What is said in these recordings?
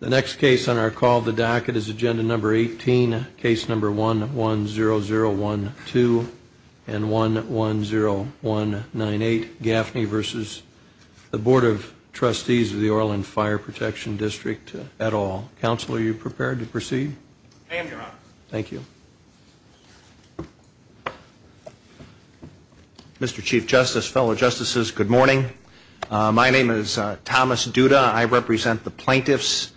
The next case on our call of the docket is agenda number 18, case number 110012 and 110198, Gaffney v. Board of Trustees of the Orland Fire Protection District, et al. Counsel are you prepared to proceed? Thank you. Mr. Chief Justice, fellow Justices, good morning. My name is Thomas Duda. I represent the plaintiffs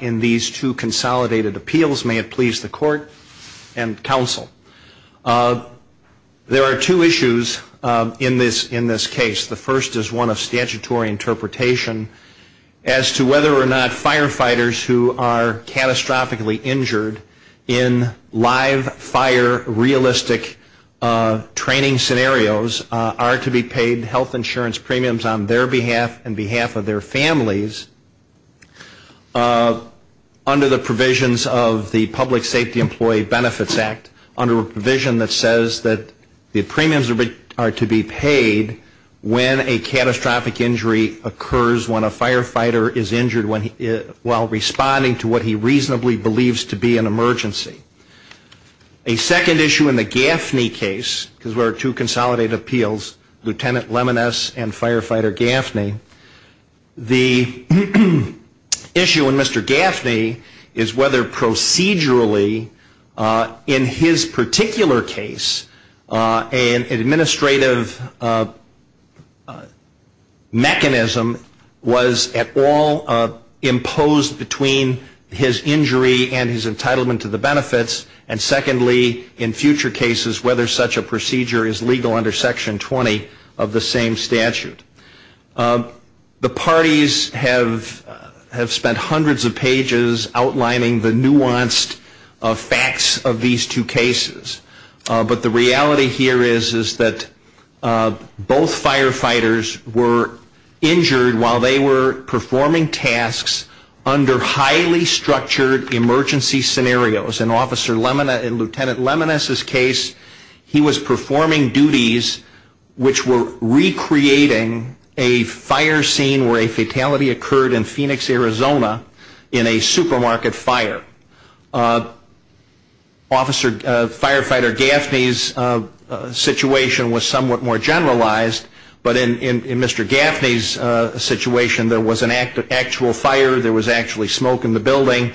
in these two consolidated appeals. May it please the court and counsel. There are two issues in this case. The first is one of statutory interpretation as to whether or not firefighters who are catastrophically injured in live fire realistic training scenarios are to be paid health insurance premiums on their behalf and behalf of their families under the provisions of the Public Safety Employee Benefits Act, under a provision that says that the premiums are to be paid when a catastrophic injury occurs when a firefighter is injured while responding to what he reasonably believes to be an emergency. A second issue in the Gaffney case, because there are two consolidated appeals, Lieutenant Lemoness and Firefighter Gaffney, the issue in Mr. Gaffney is whether procedurally in his particular case an administrative mechanism was at all imposed between his injury and his entitlement to the benefits and secondly in future cases whether such a procedure is legal under Section 20 of the same statute. The parties have spent hundreds of pages outlining the nuanced facts of these two cases, but the reality here is that both firefighters were injured while they were performing tasks under highly structured emergency scenarios. In Lieutenant Lemoness's case he was performing duties which were recreating a fire scene where a fatality occurred in Phoenix, Arizona in a supermarket fire. Officer Firefighter Gaffney's situation was somewhat more generalized, but in Mr. Gaffney's situation there was an actual fire, there was actually smoke in the building,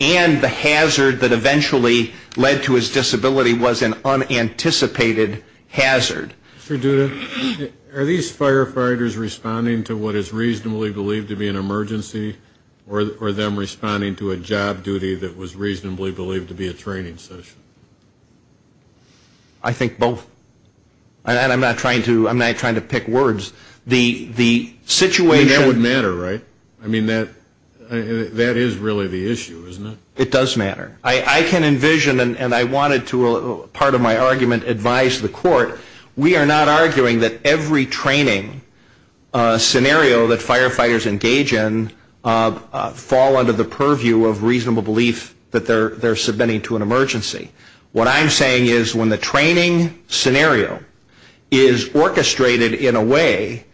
and the hazard that eventually led to his disability was an unanticipated hazard. Mr. Duda, are these firefighters responding to what is reasonably believed to be an emergency or them responding to a job duty that was reasonably believed to be a training session? I think both. And I'm not trying to pick words. The situation That would matter, right? I mean, that is really the issue, isn't it? It does matter. I can envision, and I wanted to, part of my argument, advise the court, we are not arguing that every training scenario that firefighters engage in fall under the purview of reasonable belief that they're submitting to an emergency. What I'm saying is when the training scenario is orchestrated in a way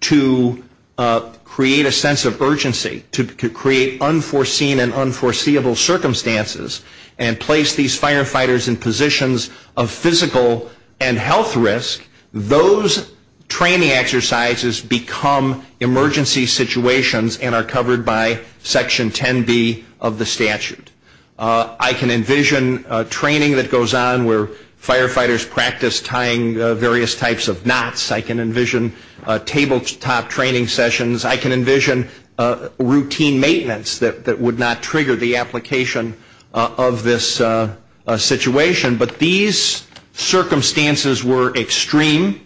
to create a sense of urgency, to create unforeseen and unforeseeable circumstances, and place these firefighters in positions of physical and health risk, those training exercises become emergency situations and are covered by Section 10B of the statute. I can envision training that goes on where firefighters practice tying various types of knots. I can envision tabletop training sessions. I can envision routine maintenance that would not trigger the application of this situation. But these circumstances were extreme.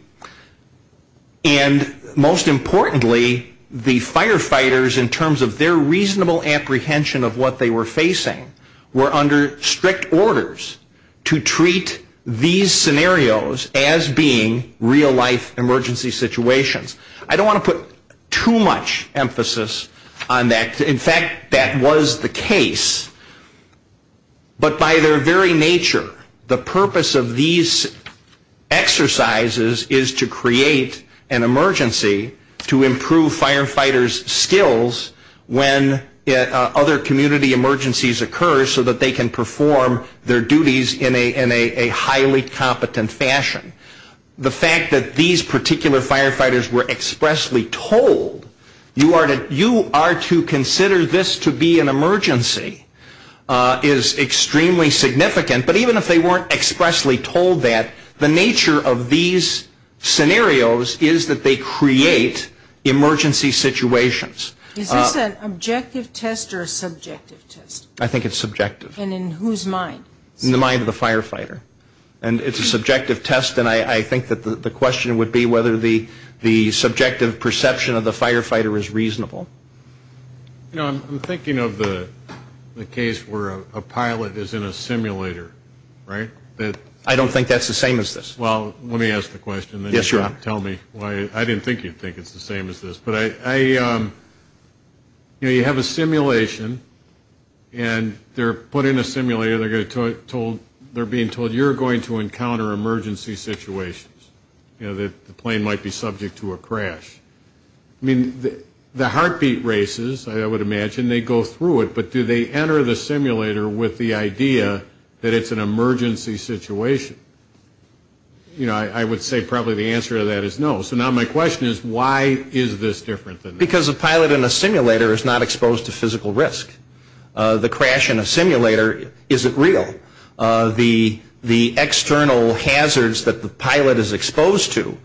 And most importantly, the firefighters, in terms of their reasonable apprehension of what they were facing, were under strict orders to treat these scenarios as being real life emergency situations. I don't want to put too much emphasis on that. In fact, that was the case. But by their very nature, the purpose of these exercises is to create an emergency to improve firefighters' skills when other community emergencies occur so that they can perform their duties in a highly competent fashion. The fact that these particular firefighters were expressly told, you are to consider this to be an emergency, is extremely significant. But even if they weren't expressly told that, the nature of these scenarios is that they create emergency situations. Is this an objective test or a subjective test? I think it's subjective. And in whose mind? In the mind of the firefighter. And it's a subjective test. And I think that the question would be whether the subjective perception of the firefighter is reasonable. You know, I'm thinking of the case where a pilot is in a simulator, right? I don't think that's the same as this. Well, let me ask the question. Then you can tell me why I didn't think you'd think it's the same as this. But I, you know, you have a simulation and they're put in a simulator. They're being told, you're going to encounter emergency situations. You know, the plane might be subject to a crash. I mean, the heartbeat races, I would imagine, they go through it. But do they enter the simulator with the idea that it's an emergency situation? You know, I would say probably the answer to that is no. So now my question is, why is this different than this? Because a pilot in a simulator is not exposed to physical risk. The crash in a simulator isn't real. The external hazards that the pilot is exposed to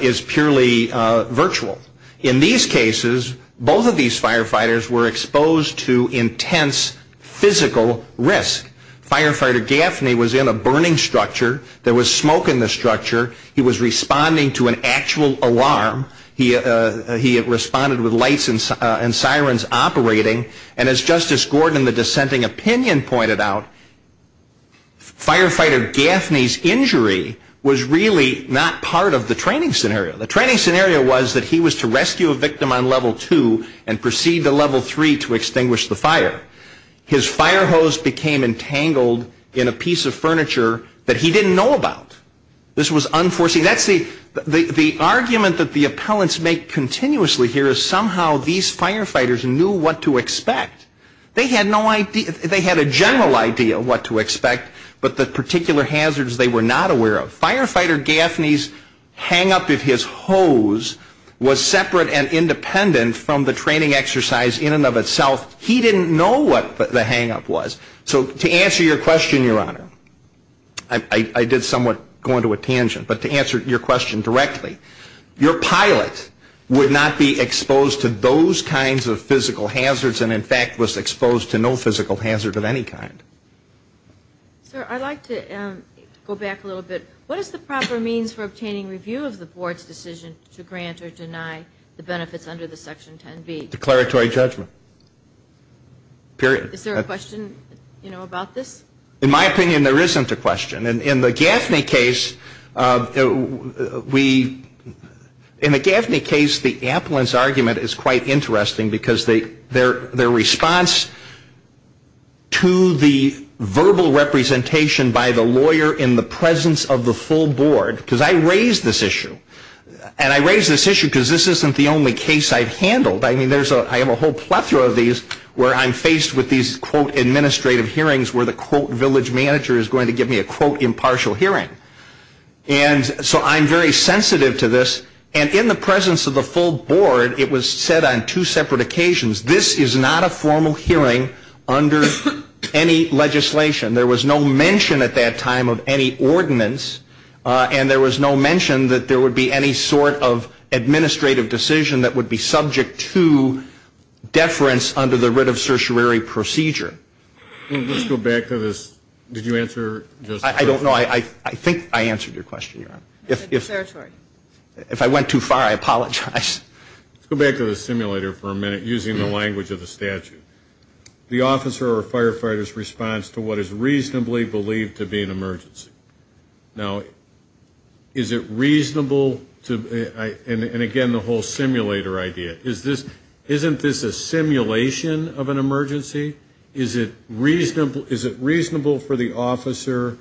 is purely virtual. In these cases, both of these firefighters were exposed to intense physical risk. Firefighter Gaffney was in a burning structure. There was smoke in the structure. He was responding to an actual alarm. He responded with lights and sirens operating. And as Justice Gordon, the dissenting opinion, pointed out, firefighter Gaffney's injury was really not part of the training scenario. The training scenario was that he was to rescue a victim on level two and proceed to level three to extinguish the fire. His fire hose became entangled in a piece of furniture that he didn't know about. This was unforeseen. That's the argument that the appellants make continuously here is somehow these firefighters knew what to expect. They had no idea, they had a general idea of what to expect, but the particular hazards they were not aware of. Firefighter Gaffney's hang up of his hose was separate and independent from the training exercise in and of itself. He didn't know what the hang up was. So to answer your question, Your Honor, I did somewhat go into a tangent, but to answer your question directly, your pilot would not be exposed to those kinds of physical hazards and, in fact, was exposed to no physical hazard of any kind. Sir, I'd like to go back a little bit. What is the proper means for obtaining review of the board's decision to grant or deny the benefits under the section 10B? Declaratory judgment, period. Is there a question about this? In my opinion, there isn't a question. In the Gaffney case, we, in the Gaffney case, the appellant's argument is quite interesting because their response to the verbal representation by the lawyer in the presence of the full board, because I raised this issue. And I raised this issue because this isn't the only case I've handled. I mean, I have a whole plethora of these where I'm faced with these, quote, administrative hearings where the, quote, village manager is going to give me a, quote, impartial hearing. And so I'm very sensitive to this. And in the presence of the full board, it was said on two separate occasions, this is not a formal hearing under any legislation. There was no mention at that time of any ordinance. And there was no mention that there would be any sort of administrative decision that would be subject to deference under the writ of certiorary procedure. Let's go back to this. Did you answer? I don't know. I think I answered your question, Your Honor. If I went too far, I apologize. Let's go back to the simulator for a minute, using the language of the statute. The officer or firefighter's response to what is reasonably believed to be an emergency. Now, is it reasonable to, and again, the whole simulator idea. Isn't this a simulation of an emergency? Is it reasonable for the officer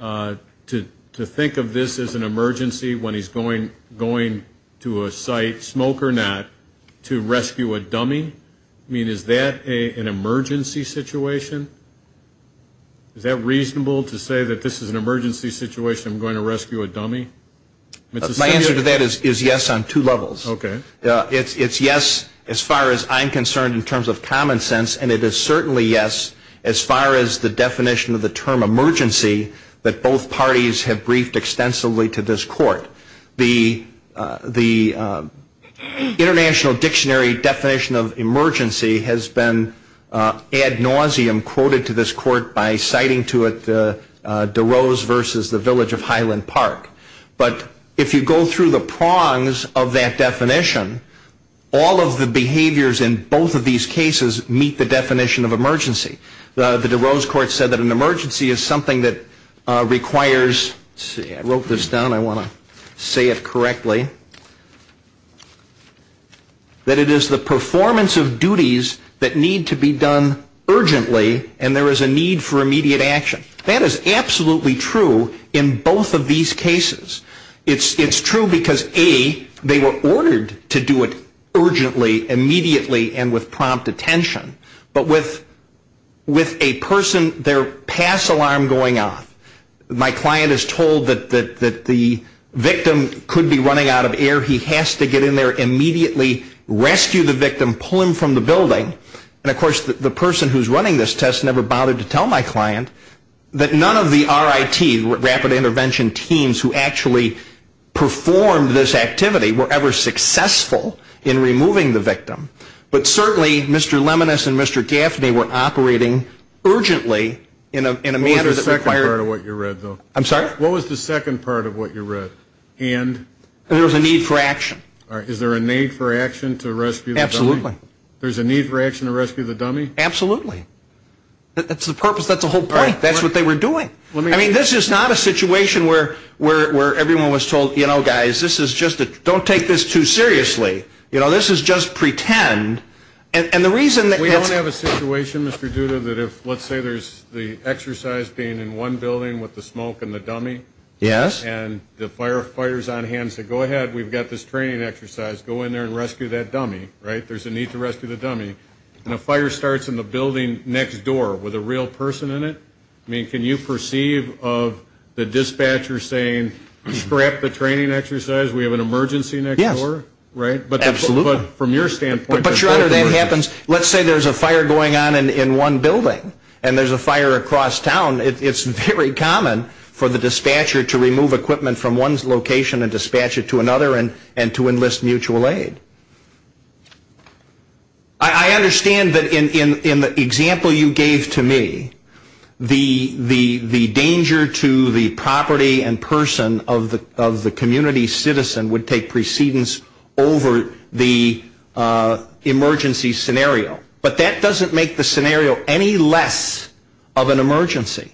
to think of this as an emergency when he's going to a site, smoke or not, to rescue a dummy? I mean, is that an emergency situation? Is that reasonable to say that this is an emergency situation, I'm going to rescue a dummy? My answer to that is yes on two levels. Okay. It's yes as far as I'm concerned in terms of common sense. And it is certainly yes as far as the definition of the term emergency that both parties have briefed extensively to this court. The International Dictionary definition of emergency has been ad nauseum quoted to this court by citing to it DeRose versus the village of Highland Park. But if you go through the prongs of that definition, all of the behaviors in both of these cases meet the definition of emergency. The DeRose court said that an emergency is something that requires, let's see, I wrote this down, I want to say it correctly, that it is the performance of duties that need to be done urgently and there is a need for immediate action. That is absolutely true in both of these cases. It's true because A, they were ordered to do it urgently, immediately, and with prompt attention. But with a person, their pass alarm going off, my client is told that the victim could be running out of air. He has to get in there immediately, rescue the victim, pull him from the building. And of course, the person who is running this test never bothered to tell my client that none of the RIT, Rapid Intervention teams who actually performed this activity were ever successful in removing the victim. But certainly, Mr. Leminis and Mr. Gaffney were operating urgently in a manner that required What was the second part of what you read, though? I'm sorry? What was the second part of what you read? And? There was a need for action. Is there a need for action to rescue the victim? Absolutely. There's a need for action to rescue the dummy? Absolutely. That's the purpose. That's the whole point. That's what they were doing. I mean, this is not a situation where everyone was told, you know, guys, this is just a, don't take this too seriously. You know, this is just pretend. And the reason that it's We don't have a situation, Mr. Duda, that if, let's say, there's the exercise being in one building with the smoke and the dummy. Yes. And the firefighter's on hand to go ahead. We've got this training exercise. Go in there and rescue that dummy, right? There's a need to rescue the dummy. And a fire starts in the building next door with a real person in it? I mean, can you perceive of the dispatcher saying, scrap the training exercise. We have an emergency next door? Yes. Right? Absolutely. But from your standpoint, But your honor, that happens. Let's say there's a fire going on in one building. And there's a fire across town. It's very common for the dispatcher to remove equipment from one's location and dispatch it to another and to enlist mutual aid. I understand that in the example you gave to me, the danger to the property and person of the community citizen would take precedence over the emergency scenario. But that doesn't make the scenario any less of an emergency.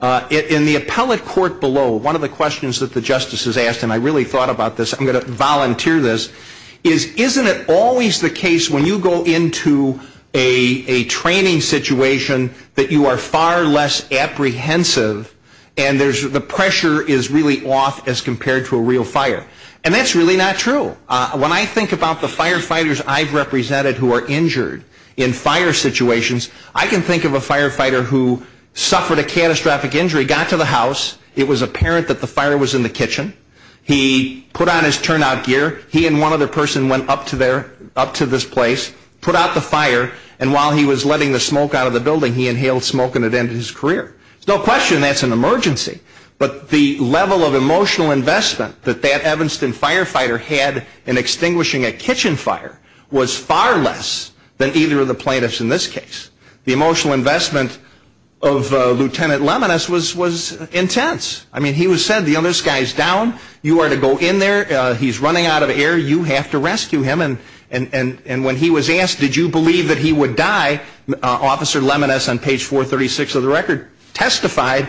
In the appellate court below, one of the questions that the justice has asked, and I really thought about this, I'm going to volunteer this, is isn't it always the case when you go into a training situation that you are far less apprehensive and the pressure is really off as compared to a real fire? And that's really not true. When I think about the firefighters I've represented who are injured in fire situations, I can think of a firefighter who suffered a catastrophic injury, got to the house. It was apparent that the fire was in the kitchen. He put on his turnout gear. He and one other person went up to this place, put out the fire. And while he was letting the smoke out of the building, he inhaled smoke and it ended his career. There's no question that's an emergency. But the level of emotional investment that that Evanston firefighter had in extinguishing a kitchen fire was far less than either of the plaintiffs in this case. The emotional investment of Lieutenant Leminis was intense. I mean, he said, this guy's down. You are to go in there. He's running out of air. You have to rescue him. And when he was asked, did you believe that he would die, Officer Leminis on page 436 of the record testified,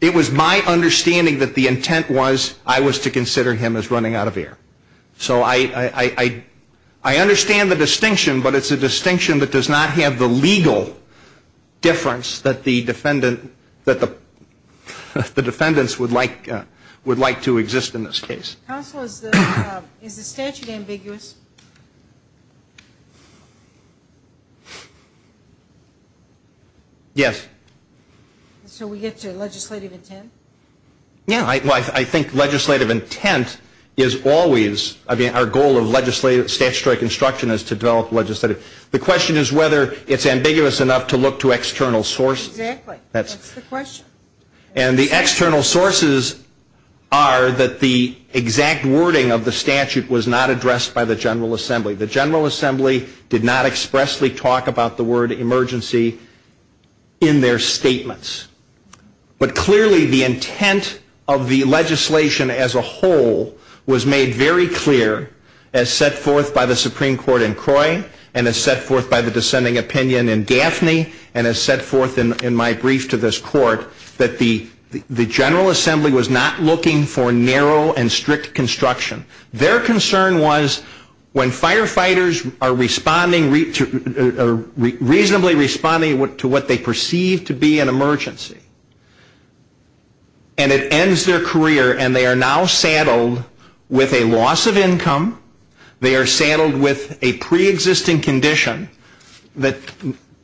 it was my understanding that the intent was I was to consider him as running out of air. So I understand the distinction, but it's a distinction that does not have the legal difference that the defendant, that the defendants would like to exist in this case. Counselor, is the statute ambiguous? Yes. So we get to legislative intent? Yeah, I think legislative intent is always, I mean, our goal of legislative statutory construction is to develop legislative. The question is whether it's ambiguous enough to look to external sources. Exactly, that's the question. And the external sources are that the exact wording of the statute was not addressed by the General Assembly. The General Assembly did not expressly talk about the word emergency in their statements. But clearly the intent of the legislation as a whole was made very clear as set forth by the Supreme Court in Croy and as set forth by the descending opinion in Daphne and as set forth in my brief to this court that the General Assembly was not looking for narrow and strict construction. Their concern was when firefighters are responding, reasonably responding to what they perceive to be an emergency. And it ends their career and they are now saddled with a loss of income. They are saddled with a pre-existing condition that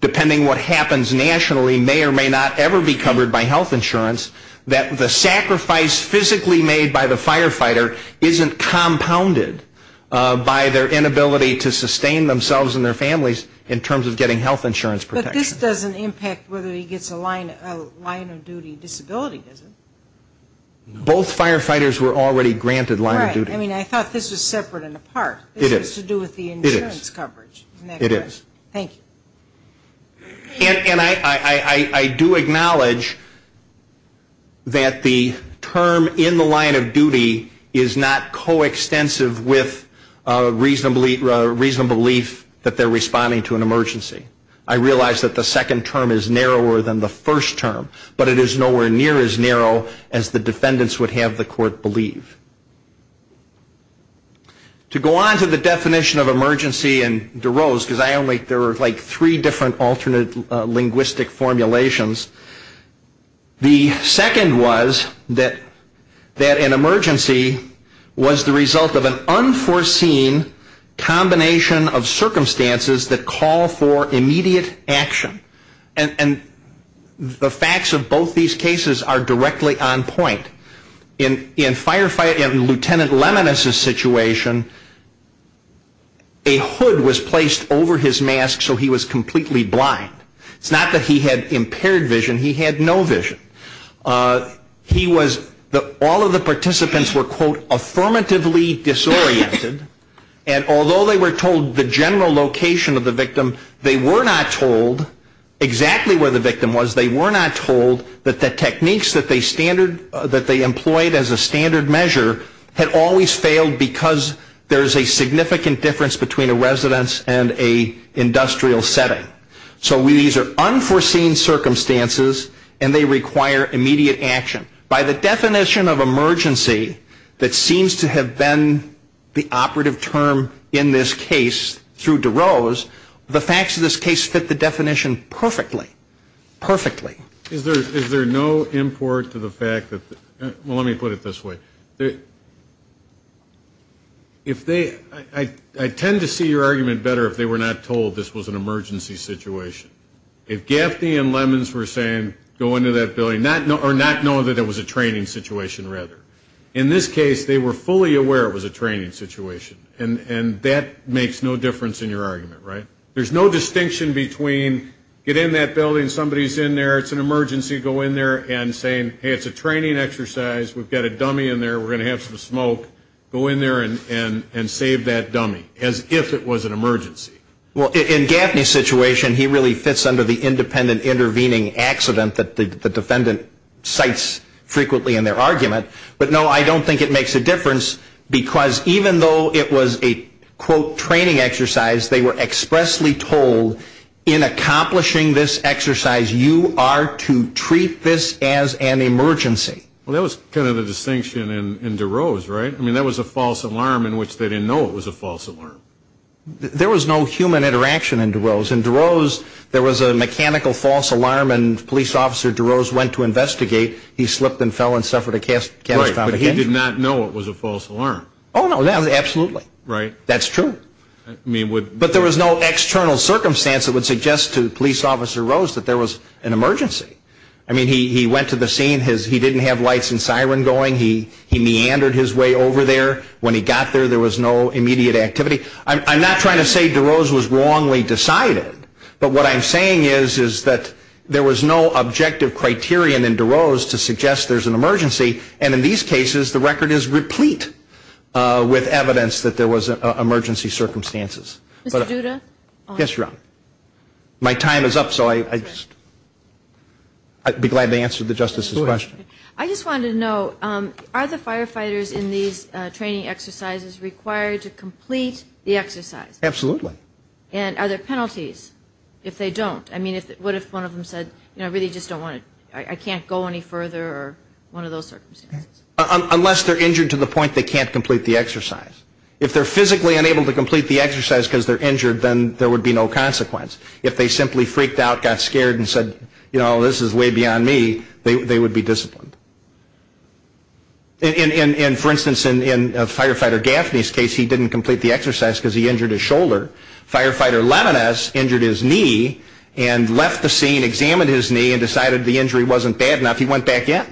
depending what happens nationally may or may not ever be covered by health insurance that the sacrifice physically made by the firefighter isn't compounded by their inability to sustain themselves and their families in terms of getting health insurance protection. But this doesn't impact whether he gets a line of duty disability, does it? Both firefighters were already granted line of duty. Right, I mean, I thought this was separate and apart. It is. It has to do with the insurance coverage. It is. Thank you. And I do acknowledge that the term in the line of duty is not coextensive with a reasonable belief that they're responding to an emergency. I realize that the second term is narrower than the first term, but it is nowhere near as narrow as the defendants would have the court believe. To go on to the definition of emergency and DeRose, because I only, there were like three different alternate linguistic formulations. The second was that an emergency was the result of an unforeseen combination of circumstances that call for immediate action. And the facts of both these cases are directly on point. In Firefighter, in Lieutenant Leminis' situation, a hood was placed over his mask so he was completely blind. It's not that he had impaired vision, he had no vision. He was, all of the participants were, quote, affirmatively disoriented. And although they were told the general location of the victim, they were not told exactly where the victim was. They were not told that the techniques that they standard, that they employed as a standard measure had always failed because there's a significant difference between a residence and a industrial setting. So these are unforeseen circumstances and they require immediate action. By the definition of emergency that seems to have been the operative term in this case through DeRose, the facts of this case fit the definition perfectly. Perfectly. Is there no import to the fact that, well, let me put it this way. If they, I tend to see your argument better if they were not told this was an emergency situation. If Gaffney and Lemins were saying, go into that building, or not knowing that it was a training situation, rather. In this case, they were fully aware it was a training situation. And that makes no difference in your argument, right? There's no distinction between, get in that building, somebody's in there, it's an emergency, go in there, and saying, hey, it's a training exercise, we've got a dummy in there, we're gonna have some smoke. Go in there and save that dummy, as if it was an emergency. Well, in Gaffney's situation, he really fits under the independent intervening accident that the defendant cites frequently in their argument. But no, I don't think it makes a difference, because even though it was a quote training exercise, they were expressly told, in accomplishing this exercise, you are to treat this as an emergency. Well, that was kind of the distinction in DeRose, right? I mean, that was a false alarm in which they didn't know it was a false alarm. There was no human interaction in DeRose. In DeRose, there was a mechanical false alarm and police officer DeRose went to investigate. He slipped and fell and suffered a catastrophic injury. Right, but he did not know it was a false alarm. Oh no, absolutely. Right. That's true. But there was no external circumstance that would suggest to police officer Rose that there was an emergency. I mean, he went to the scene, he didn't have lights and siren going. He meandered his way over there. When he got there, there was no immediate activity. I'm not trying to say DeRose was wrongly decided. But what I'm saying is, is that there was no objective criterion in DeRose to suggest there's an emergency. And in these cases, the record is replete with evidence that there was emergency circumstances. Mr. Duda? Yes, Your Honor. My time is up, so I'd be glad to answer the Justice's question. I just wanted to know, are the firefighters in these training exercises required to complete the exercise? Absolutely. And are there penalties if they don't? I mean, what if one of them said, I really just don't want to, I can't go any further, or one of those circumstances. Unless they're injured to the point they can't complete the exercise. If they're physically unable to complete the exercise because they're injured, then there would be no consequence. If they simply freaked out, got scared, and said, you know, this is way beyond me, they would be disciplined. And for instance, in Firefighter Gaffney's case, he didn't complete the exercise because he injured his shoulder. Firefighter Levinas injured his knee and left the scene, examined his knee, and decided the injury wasn't bad enough. He went back in,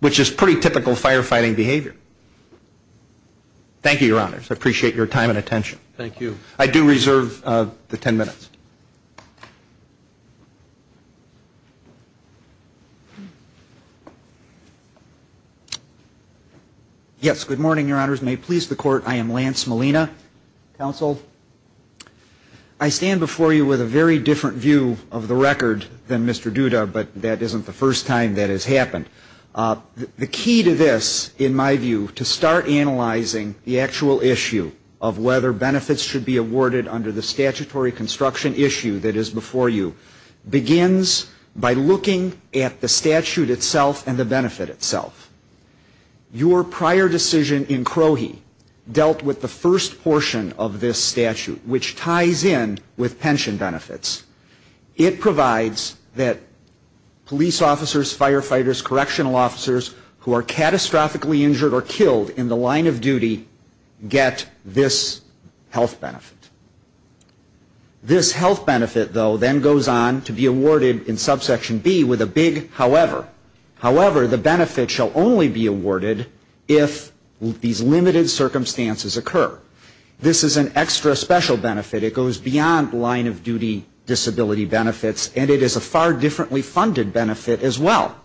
which is pretty typical firefighting behavior. Thank you, Your Honors. I appreciate your time and attention. Thank you. I do reserve the 10 minutes. Yes, good morning, Your Honors. May it please the Court, I am Lance Molina, counsel. I stand before you with a very different view of the record than Mr. Duda, but that isn't the first time that has happened. The key to this, in my view, to start analyzing the actual issue of whether benefits should be awarded under the statutory construction issue that is before you, begins by looking at the statute itself and the benefit itself. Your prior decision in Crohe dealt with the first portion of this statute, which ties in with pension benefits. It provides that police officers, firefighters, correctional officers who are catastrophically injured or killed in the line of duty get this health benefit. This health benefit, though, then goes on to be awarded in subsection B with a big however, however the benefit shall only be awarded if these limited circumstances occur. This is an extra special benefit. It goes beyond line of duty disability benefits, and it is a far differently funded benefit as well.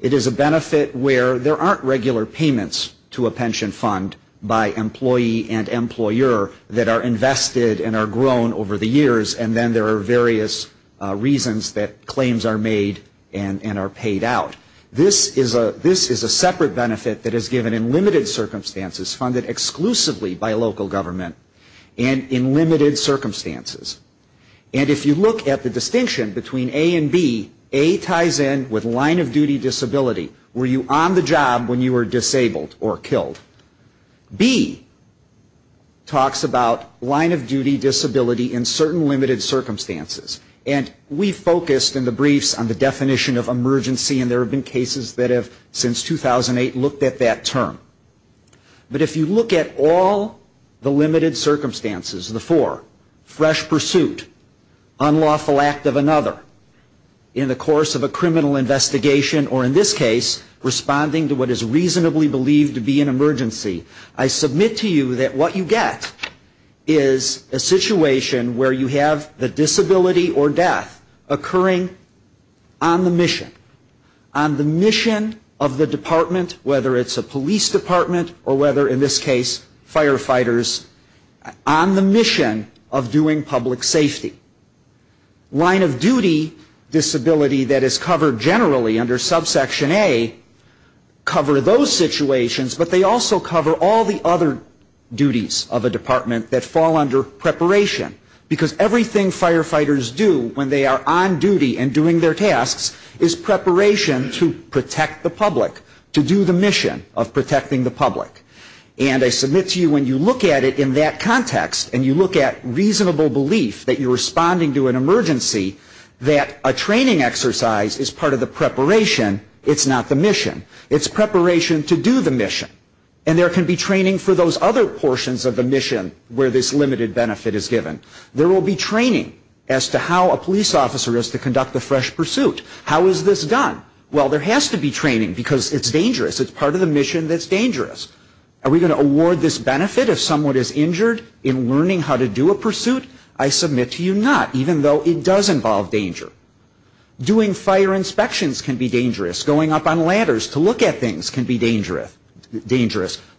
It is a benefit where there aren't regular payments to a pension fund by employee and employer that are invested and are grown over the years, and then there are various reasons that claims are made and are paid out. This is a separate benefit that is given in limited circumstances, funded exclusively by local government, and in limited circumstances. And if you look at the distinction between A and B, A ties in with line of duty disability. Were you on the job when you were disabled or killed? B talks about line of duty disability in certain limited circumstances. And we focused in the briefs on the definition of emergency, and there have been cases that have, since 2008, looked at that term. But if you look at all the limited circumstances, the four, fresh pursuit, unlawful act of another, in the course of a criminal investigation, or in this case, responding to what is reasonably believed to be an emergency, I submit to you that what you get is a situation where you have the disability or death occurring on the mission, on the mission of the department, whether it's a police department or whether, in this case, firefighters, on the mission of doing public safety. Line of duty disability that is covered generally under subsection A, cover those situations, but they also cover all the other duties of a department that fall under preparation, because everything firefighters do when they are on duty and doing their tasks is preparation to protect the public, to do the mission of protecting the public. And I submit to you, when you look at it in that context, and you look at reasonable belief that you're responding to an emergency, that a training exercise is part of the preparation, it's not the mission. It's preparation to do the mission. And there can be training for those other portions of the mission where this limited benefit is given. There will be training as to how a police officer is to conduct the fresh pursuit. How is this done? Well, there has to be training, because it's dangerous. It's part of the mission that's dangerous. Are we going to award this benefit if someone is injured in learning how to do a pursuit? I submit to you not, even though it does involve danger. Doing fire inspections can be dangerous. Going up on ladders to look at things can be dangerous.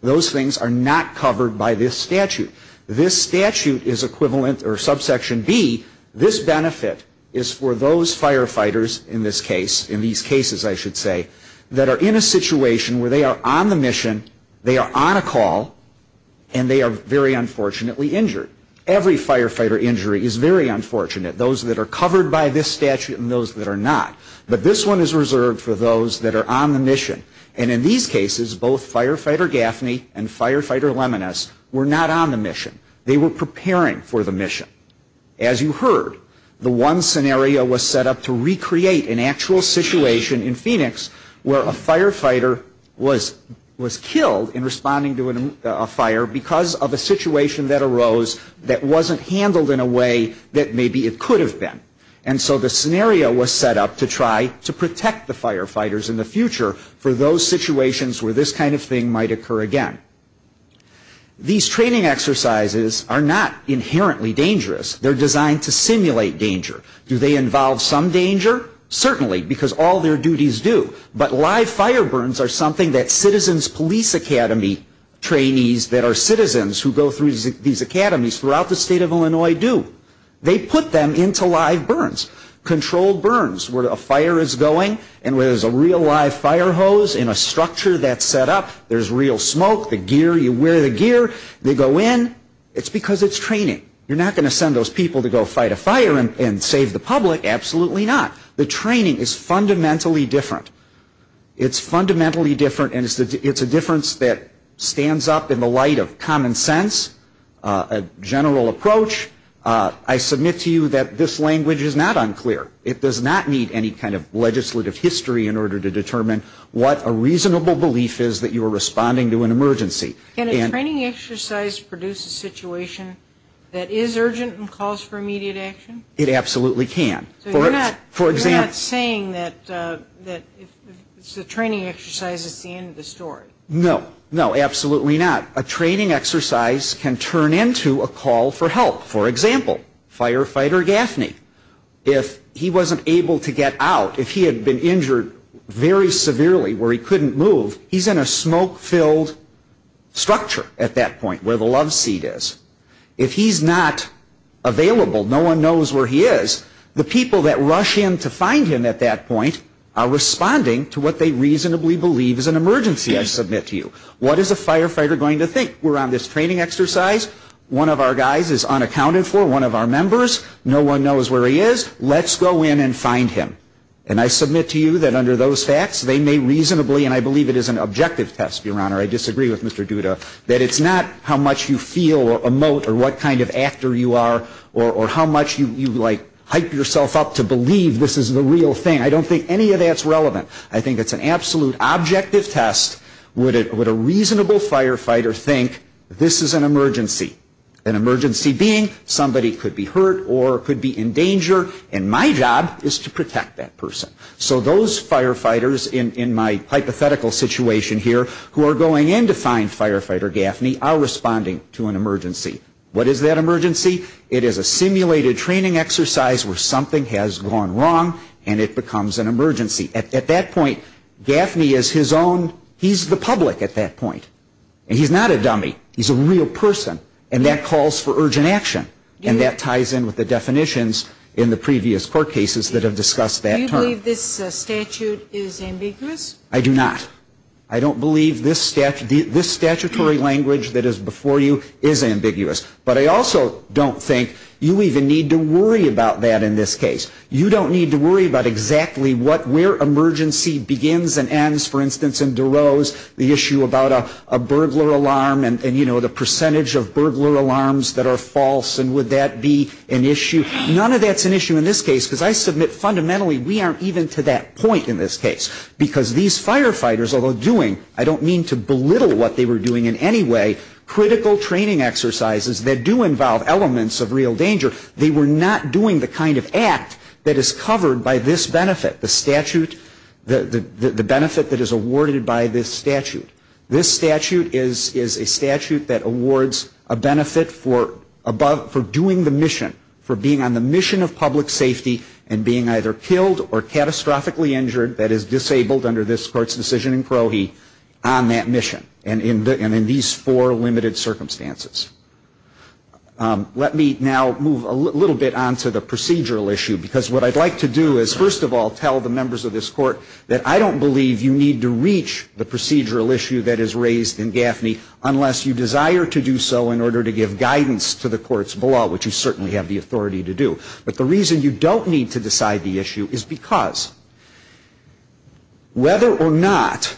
Those things are not covered by this statute. This statute is equivalent, or subsection B, this benefit is for those firefighters in this case, in these cases I should say, that are in a situation where they are on the mission, they are on a call, and they are very unfortunately injured. Every firefighter injury is very unfortunate. Those that are covered by this statute and those that are not. But this one is reserved for those that are on the mission. And in these cases, both Firefighter Gaffney and Firefighter Leminis were not on the mission. They were preparing for the mission. As you heard, the one scenario was set up to recreate an actual situation in Phoenix where a firefighter was killed in responding to a fire because of a situation that arose that wasn't handled in a way that maybe it could have been. And so the scenario was set up to try to protect the firefighters in the future for those situations where this kind of thing might occur again. These training exercises are not inherently dangerous. They're designed to simulate danger. Do they involve some danger? Certainly, because all their duties do. But live fire burns are something that Citizens Police Academy trainees, that are citizens who go through these academies throughout the state of Illinois, do. They put them into live burns. Controlled burns, where a fire is going, and where there's a real live fire hose in a structure that's set up. There's real smoke. The gear, you wear the gear. They go in. It's because it's training. You're not gonna send those people to go fight a fire and save the public. Absolutely not. The training is fundamentally different. It's fundamentally different and it's a difference that stands up in the light of common sense, a general approach. I submit to you that this language is not unclear. It does not need any kind of legislative history in order to determine what a reasonable belief is that you are responding to an emergency. Can a training exercise produce a situation that is urgent and calls for immediate action? It absolutely can. So you're not saying that it's a training exercise, it's the end of the story. No, no, absolutely not. A training exercise can turn into a call for help. For example, firefighter Gaffney, if he wasn't able to get out, if he had been injured very severely where he couldn't move, he's in a smoke-filled structure at that point where the love seat is. If he's not available, no one knows where he is, the people that rush in to find him at that point are responding to what they reasonably believe is an emergency, I submit to you. What is a firefighter going to think? We're on this training exercise, one of our guys is unaccounted for, one of our members, no one knows where he is, let's go in and find him. And I submit to you that under those facts, they may reasonably, and I believe it is an objective test, Your Honor, I disagree with Mr. Duda. That it's not how much you feel or emote or what kind of actor you are or how much you hype yourself up to believe this is the real thing. I don't think any of that's relevant. I think it's an absolute objective test. Would a reasonable firefighter think this is an emergency? An emergency being somebody could be hurt or could be in danger, and my job is to protect that person. So those firefighters, in my hypothetical situation here, who are going in to find firefighter Gaffney, are responding to an emergency. What is that emergency? It is a simulated training exercise where something has gone wrong, and it becomes an emergency. At that point, Gaffney is his own, he's the public at that point. And he's not a dummy, he's a real person, and that calls for urgent action. And that ties in with the definitions in the previous court cases that have discussed that term. Do you believe this statute is ambiguous? I do not. I don't believe this statutory language that is before you is ambiguous. But I also don't think you even need to worry about that in this case. You don't need to worry about exactly where emergency begins and ends. For instance, in DeRose, the issue about a burglar alarm and the percentage of burglar alarms that are false, and would that be an issue? None of that's an issue in this case, because I submit fundamentally we aren't even to that point in this case. Because these firefighters, although doing, I don't mean to belittle what they were doing in any way, critical training exercises that do involve elements of real danger, they were not doing the kind of act that is covered by this benefit, the statute, the benefit that is awarded by this statute. This statute is a statute that awards a benefit for doing the mission, for being on the mission of public safety, and being either killed or catastrophically injured, that is disabled under this court's decision in Crohe, on that mission, and in these four limited circumstances. Let me now move a little bit on to the procedural issue, because what I'd like to do is, first of all, tell the members of this court that I don't believe you need to reach the procedural issue that is raised in Gaffney unless you desire to do so in order to give guidance to the courts below, which you certainly have the authority to do. But the reason you don't need to decide the issue is because, whether or not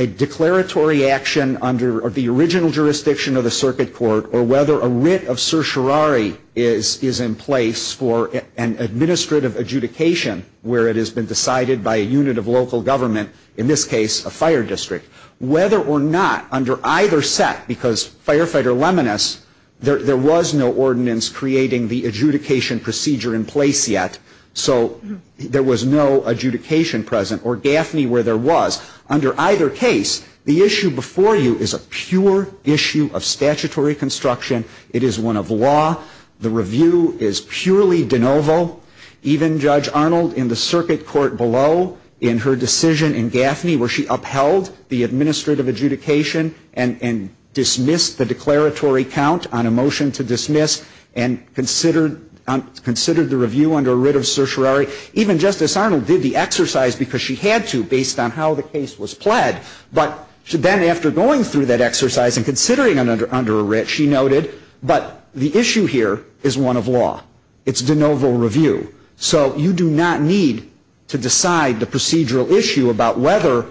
a declaratory action under the original jurisdiction of the circuit court, or whether a writ of certiorari is in place for an administrative adjudication, where it has been decided by a unit of local government, in this case, a fire district, whether or not under either set, because Firefighter Leminis, there was no ordinance creating the adjudication procedure in place yet, so there was no adjudication present, or Gaffney where there was, under either case, the issue before you is a pure issue of statutory construction, it is one of law, the review is purely de novo. Even Judge Arnold, in the circuit court below, in her decision in Gaffney, where she upheld the administrative adjudication and dismissed the declaratory count on a motion to dismiss, and considered the review under a writ of certiorari. Even Justice Arnold did the exercise because she had to, based on how the case was pled. But then after going through that exercise and considering it under a writ, she noted, but the issue here is one of law. It's de novo review. So you do not need to decide the procedural issue about whether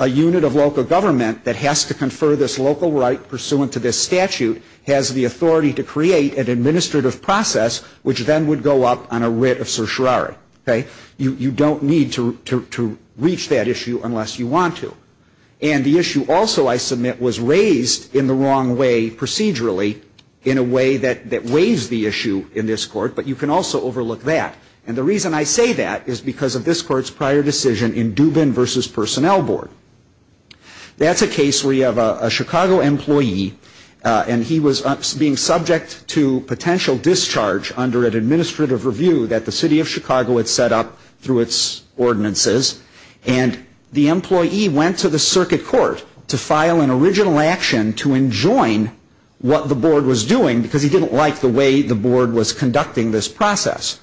a unit of local government that has to confer this local right pursuant to this statute has the authority to create an administrative process, which then would go up on a writ of certiorari, okay? You don't need to reach that issue unless you want to. And the issue also, I submit, was raised in the wrong way procedurally in a way that weighs the issue in this court, but you can also overlook that. And the reason I say that is because of this court's prior decision in Dubin versus Personnel Board. That's a case where you have a Chicago employee, and he was being subject to potential discharge under an administrative review that the city of Chicago had set up through its ordinances. And the employee went to the circuit court to file an original action to enjoin what the board was doing, because he didn't like the way the board was conducting this process.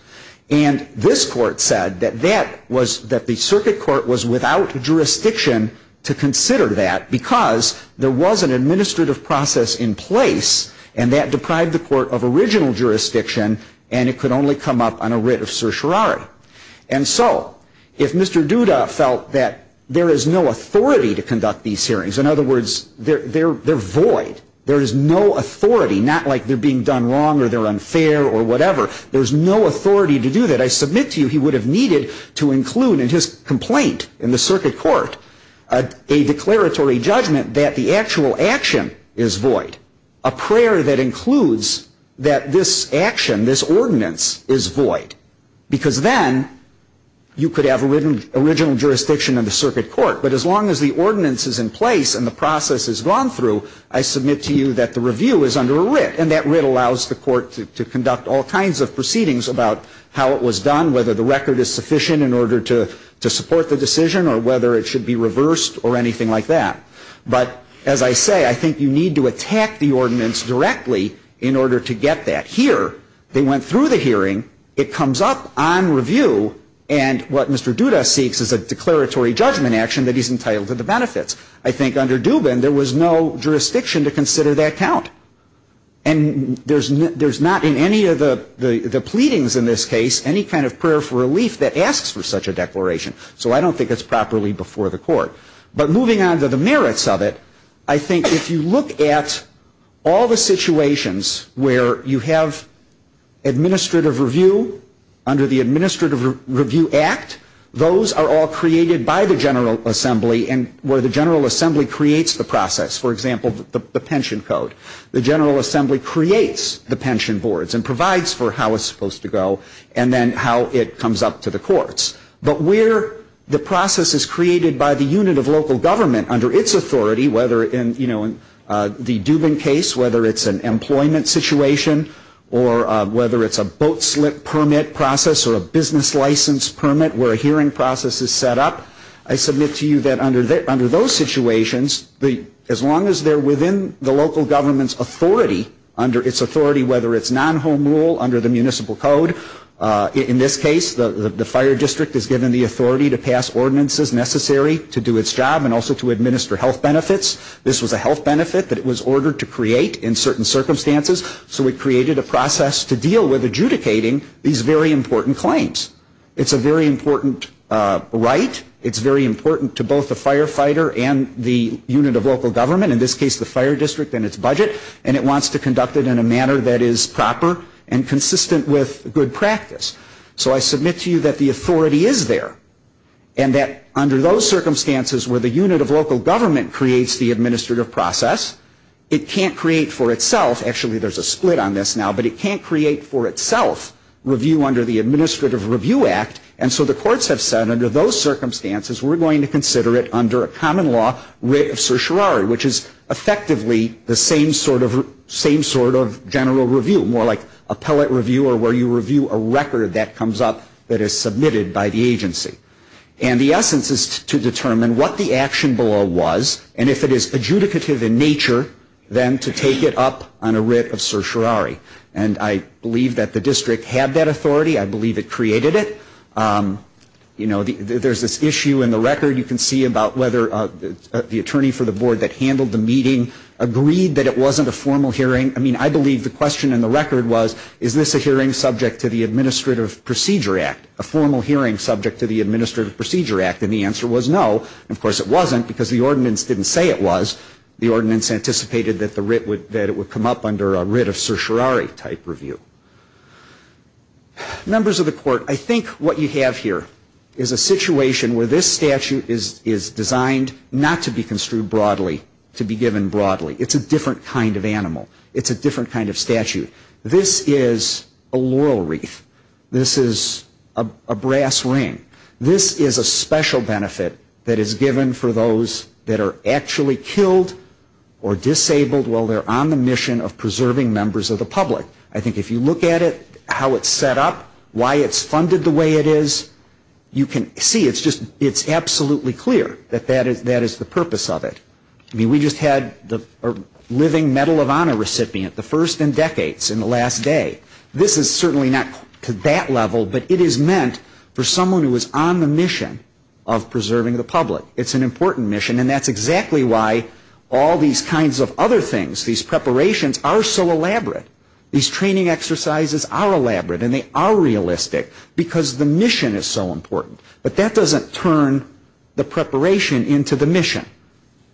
And this court said that the circuit court was without jurisdiction to consider that, because there was an administrative process in place. And that deprived the court of original jurisdiction, and it could only come up on a writ of certiorari. And so, if Mr. Duda felt that there is no authority to conduct these hearings, in other words, they're void. There is no authority, not like they're being done wrong, or they're unfair, or whatever. There's no authority to do that. I submit to you, he would have needed to include in his complaint in the circuit court a declaratory judgment that the actual action is void. A prayer that includes that this action, this ordinance, is void. Because then, you could have original jurisdiction in the circuit court. But as long as the ordinance is in place and the process is gone through, I submit to you that the review is under a writ. And that writ allows the court to conduct all kinds of proceedings about how it was done, whether the record is sufficient in order to support the decision, or whether it should be reversed, or anything like that. But as I say, I think you need to attack the ordinance directly in order to get that here, they went through the hearing, it comes up on review, and what Mr. Duda seeks is a declaratory judgment action that he's entitled to the benefits. I think under Dubin, there was no jurisdiction to consider that count. And there's not in any of the pleadings in this case, any kind of prayer for relief that asks for such a declaration. So I don't think it's properly before the court. But moving on to the merits of it, I think if you look at all the situations where you have administrative review under the Administrative Review Act, those are all created by the General Assembly and where the General Assembly creates the process. For example, the pension code. The General Assembly creates the pension boards and provides for how it's supposed to go, and then how it comes up to the courts. But where the process is created by the unit of local government under its authority, whether in the Dubin case, whether it's an employment situation, or whether it's a boat slip permit process, or a business license permit where a hearing process is set up. I submit to you that under those situations, as long as they're within the local government's authority, under its authority, whether it's non-home rule, under the municipal code. In this case, the fire district is given the authority to pass ordinances necessary to do its job and also to administer health benefits. This was a health benefit that it was ordered to create in certain circumstances, so it created a process to deal with adjudicating these very important claims. It's a very important right. It's very important to both the firefighter and the unit of local government, in this case the fire district and its budget. And it wants to conduct it in a manner that is proper and So I submit to you that the authority is there, and that under those circumstances where the unit of local government creates the administrative process, it can't create for itself, actually there's a split on this now, but it can't create for itself review under the Administrative Review Act. And so the courts have said under those circumstances, we're going to consider it under a common law, writ of certiorari, which is effectively the same sort of general review, more like And the essence is to determine what the action below was, and if it is adjudicative in nature, then to take it up on a writ of certiorari. And I believe that the district had that authority. I believe it created it. You know, there's this issue in the record. You can see about whether the attorney for the board that handled the meeting agreed that it wasn't a formal hearing. I mean, I believe the question in the record was, is this a hearing subject to the Administrative Procedure Act, a formal hearing subject to the Administrative Procedure Act? And the answer was no, and of course it wasn't because the ordinance didn't say it was, the ordinance anticipated that the writ would, that it would come up under a writ of certiorari type review. Members of the court, I think what you have here is a situation where this statute is, is designed not to be construed broadly, to be given broadly. It's a different kind of animal. It's a different kind of statute. This is a laurel wreath. This is a, a brass ring. This is a special benefit that is given for those that are actually killed or disabled while they're on the mission of preserving members of the public. I think if you look at it, how it's set up, why it's funded the way it is, you can see it's just, it's absolutely clear that that is, that is the purpose of it. I mean, we just had the, a living Medal of Honor recipient, the first in decades, in the last day. This is certainly not to that level, but it is meant for someone who is on the mission of preserving the public. It's an important mission, and that's exactly why all these kinds of other things, these preparations, are so elaborate. These training exercises are elaborate, and they are realistic, because the mission is so important. But that doesn't turn the preparation into the mission.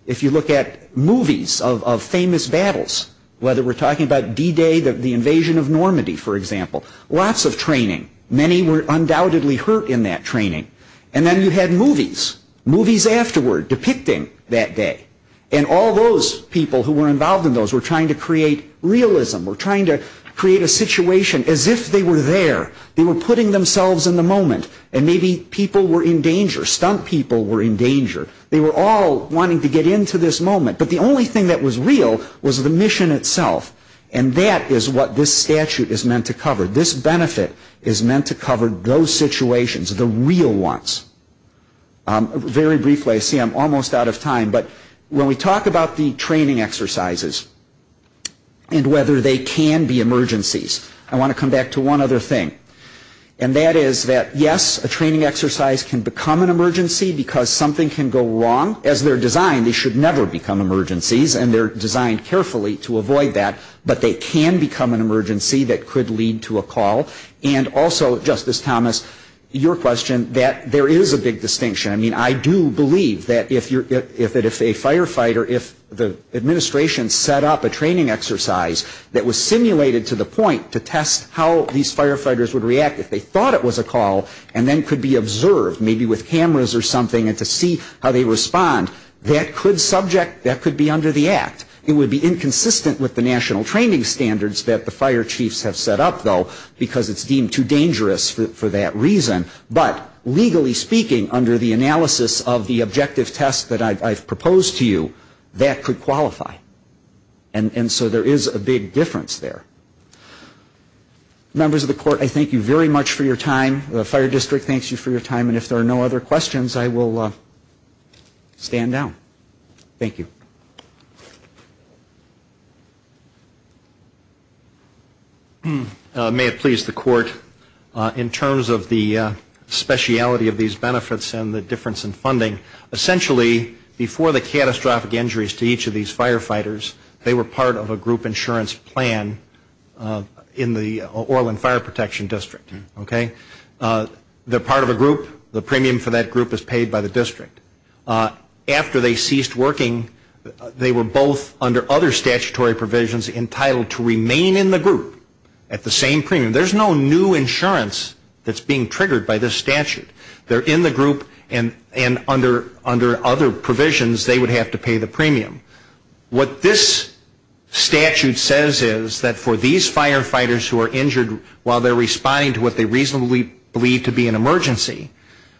If you look at movies of, of famous battles, whether we're talking about D-Day, the, the invasion of Normandy, for example, lots of training. Many were undoubtedly hurt in that training. And then you had movies, movies afterward, depicting that day. And all those people who were involved in those were trying to create realism, were trying to create a situation as if they were there. They were putting themselves in the moment. And maybe people were in danger, stunt people were in danger. They were all wanting to get into this moment. But the only thing that was real was the mission itself. And that is what this statute is meant to cover. This benefit is meant to cover those situations, the real ones. Very briefly, I see I'm almost out of time. But when we talk about the training exercises, and whether they can be emergencies, I want to come back to one other thing. And that is that, yes, a training exercise can become an emergency, because something can go wrong. As they're designed, they should never become emergencies, and they're designed carefully to avoid that. But they can become an emergency that could lead to a call. And also, Justice Thomas, your question, that there is a big distinction. I mean, I do believe that if you're, if, that if a firefighter, if the administration set up a training exercise that was simulated to the point to test how these firefighters would react if they thought it was a call, and then could be observed, maybe with cameras or something, and to see how they respond. That could subject, that could be under the act. It would be inconsistent with the national training standards that the fire chiefs have set up, though, because it's deemed too dangerous for that reason. But legally speaking, under the analysis of the objective test that I've proposed to you, that could qualify. And so there is a big difference there. Members of the court, I thank you very much for your time. The fire district thanks you for your time. And if there are no other questions, I will stand down. Thank you. May it please the court, in terms of the speciality of these benefits and the difference in funding, essentially, before the catastrophic injuries to each of these firefighters, they were part of a group insurance plan in the Orland Fire Protection District. Okay? They're part of a group. The premium for that group is paid by the district. After they ceased working, they were both, under other statutory provisions, entitled to remain in the group at the same premium. There's no new insurance that's being triggered by this statute. They're in the group, and under other provisions, they would have to pay the premium. What this statute says is that for these firefighters who are injured while they're responding to what they reasonably believe to be an emergency,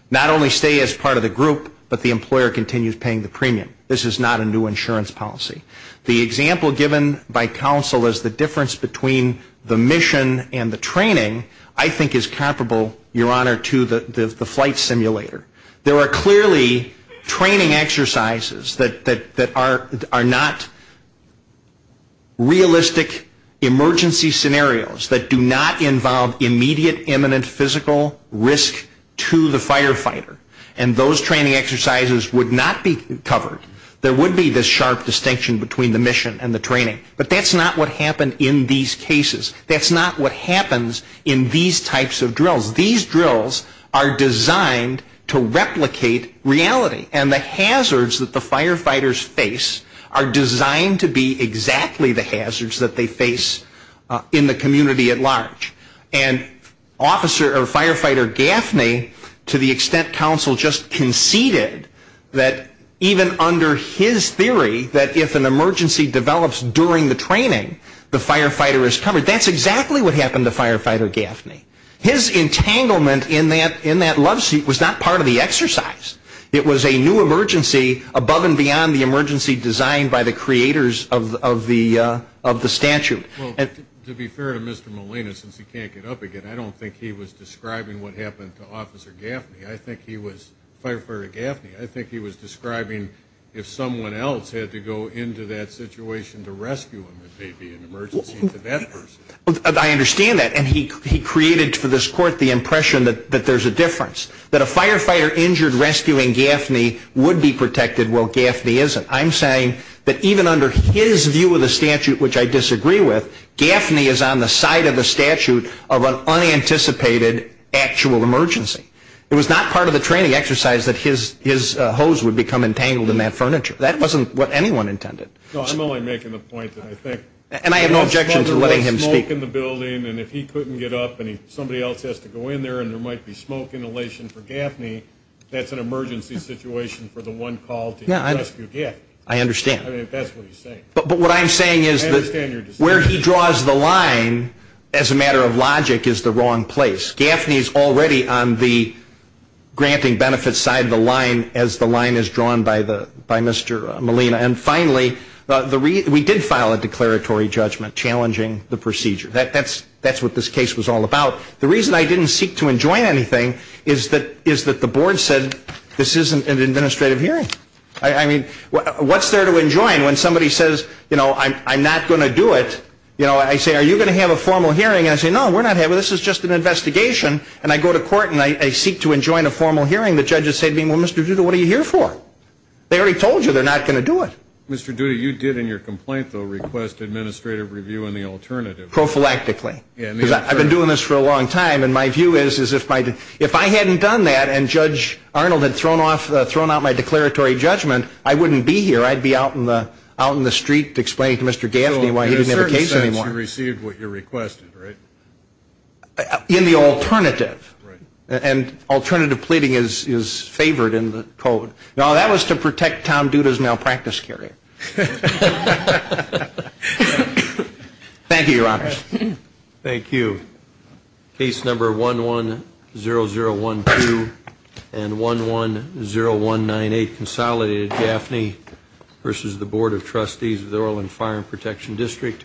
not only stay as part of the group, but the employer continues paying the premium. This is not a new insurance policy. The example given by counsel is the difference between the mission and the training, I think, is comparable, Your Honor, to the flight simulator. There are clearly training exercises that are not realistic emergency scenarios that do not involve immediate, imminent physical risk to the firefighter. And those training exercises would not be covered. There would be this sharp distinction between the mission and the training. But that's not what happened in these cases. That's not what happens in these types of drills. These drills are designed to replicate reality. And the hazards that the firefighters face are designed to be exactly the hazards that they face in the community at large. And Officer, or Firefighter Gaffney, to the extent counsel just conceded that even under his theory that if an emergency develops during the training, the firefighter is covered. That's exactly what happened to Firefighter Gaffney. His entanglement in that loveseat was not part of the exercise. It was a new emergency above and beyond the emergency designed by the creators of the statute. Well, to be fair to Mr. Molina, since he can't get up again, I don't think he was describing what happened to Officer Gaffney. I think he was, Firefighter Gaffney, I think he was describing if someone else had to go into that situation to rescue him, it may be an emergency to that person. I understand that. And he created, for this court, the impression that there's a difference. That a firefighter injured rescuing Gaffney would be protected while Gaffney isn't. I'm saying that even under his view of the statute, which I disagree with, Gaffney is on the side of the statute of an unanticipated actual emergency. It was not part of the training exercise that his hose would become entangled in that furniture. That wasn't what anyone intended. No, I'm only making the point that I think- And I have no objection to letting him speak. If there was smoke in the building and if he couldn't get up and somebody else has to go in there and there might be smoke inhalation for Gaffney, that's an emergency situation for the one called to rescue Gaffney. I understand. I mean, if that's what he's saying. But what I'm saying is that where he draws the line, as a matter of logic, is the wrong place. Gaffney's already on the granting benefits side of the line, as the line is drawn by Mr. Molina. And finally, we did file a declaratory judgment challenging the procedure. That's what this case was all about. The reason I didn't seek to enjoin anything is that the board said, this isn't an administrative hearing. I mean, what's there to enjoin when somebody says, I'm not going to do it? I say, are you going to have a formal hearing? And they say, no, we're not having, this is just an investigation. And I go to court and I seek to enjoin a formal hearing. The judges say to me, well, Mr. Duda, what are you here for? They already told you they're not going to do it. Mr. Duda, you did in your complaint, though, request administrative review and the alternative. Prophylactically. I've been doing this for a long time, and my view is, is if I hadn't done that and Judge Arnold had thrown out my declaratory judgment, I wouldn't be here. I'd be out in the street explaining to Mr. Gaffney why he didn't have a case anymore. You received what you requested, right? In the alternative. And alternative pleading is favored in the code. No, that was to protect Tom Duda's malpractice career. Thank you, Your Honor. Thank you. Case number 110012 and 110198 consolidated. Gaffney versus the Board of Trustees of the Orland Fire and Protection District.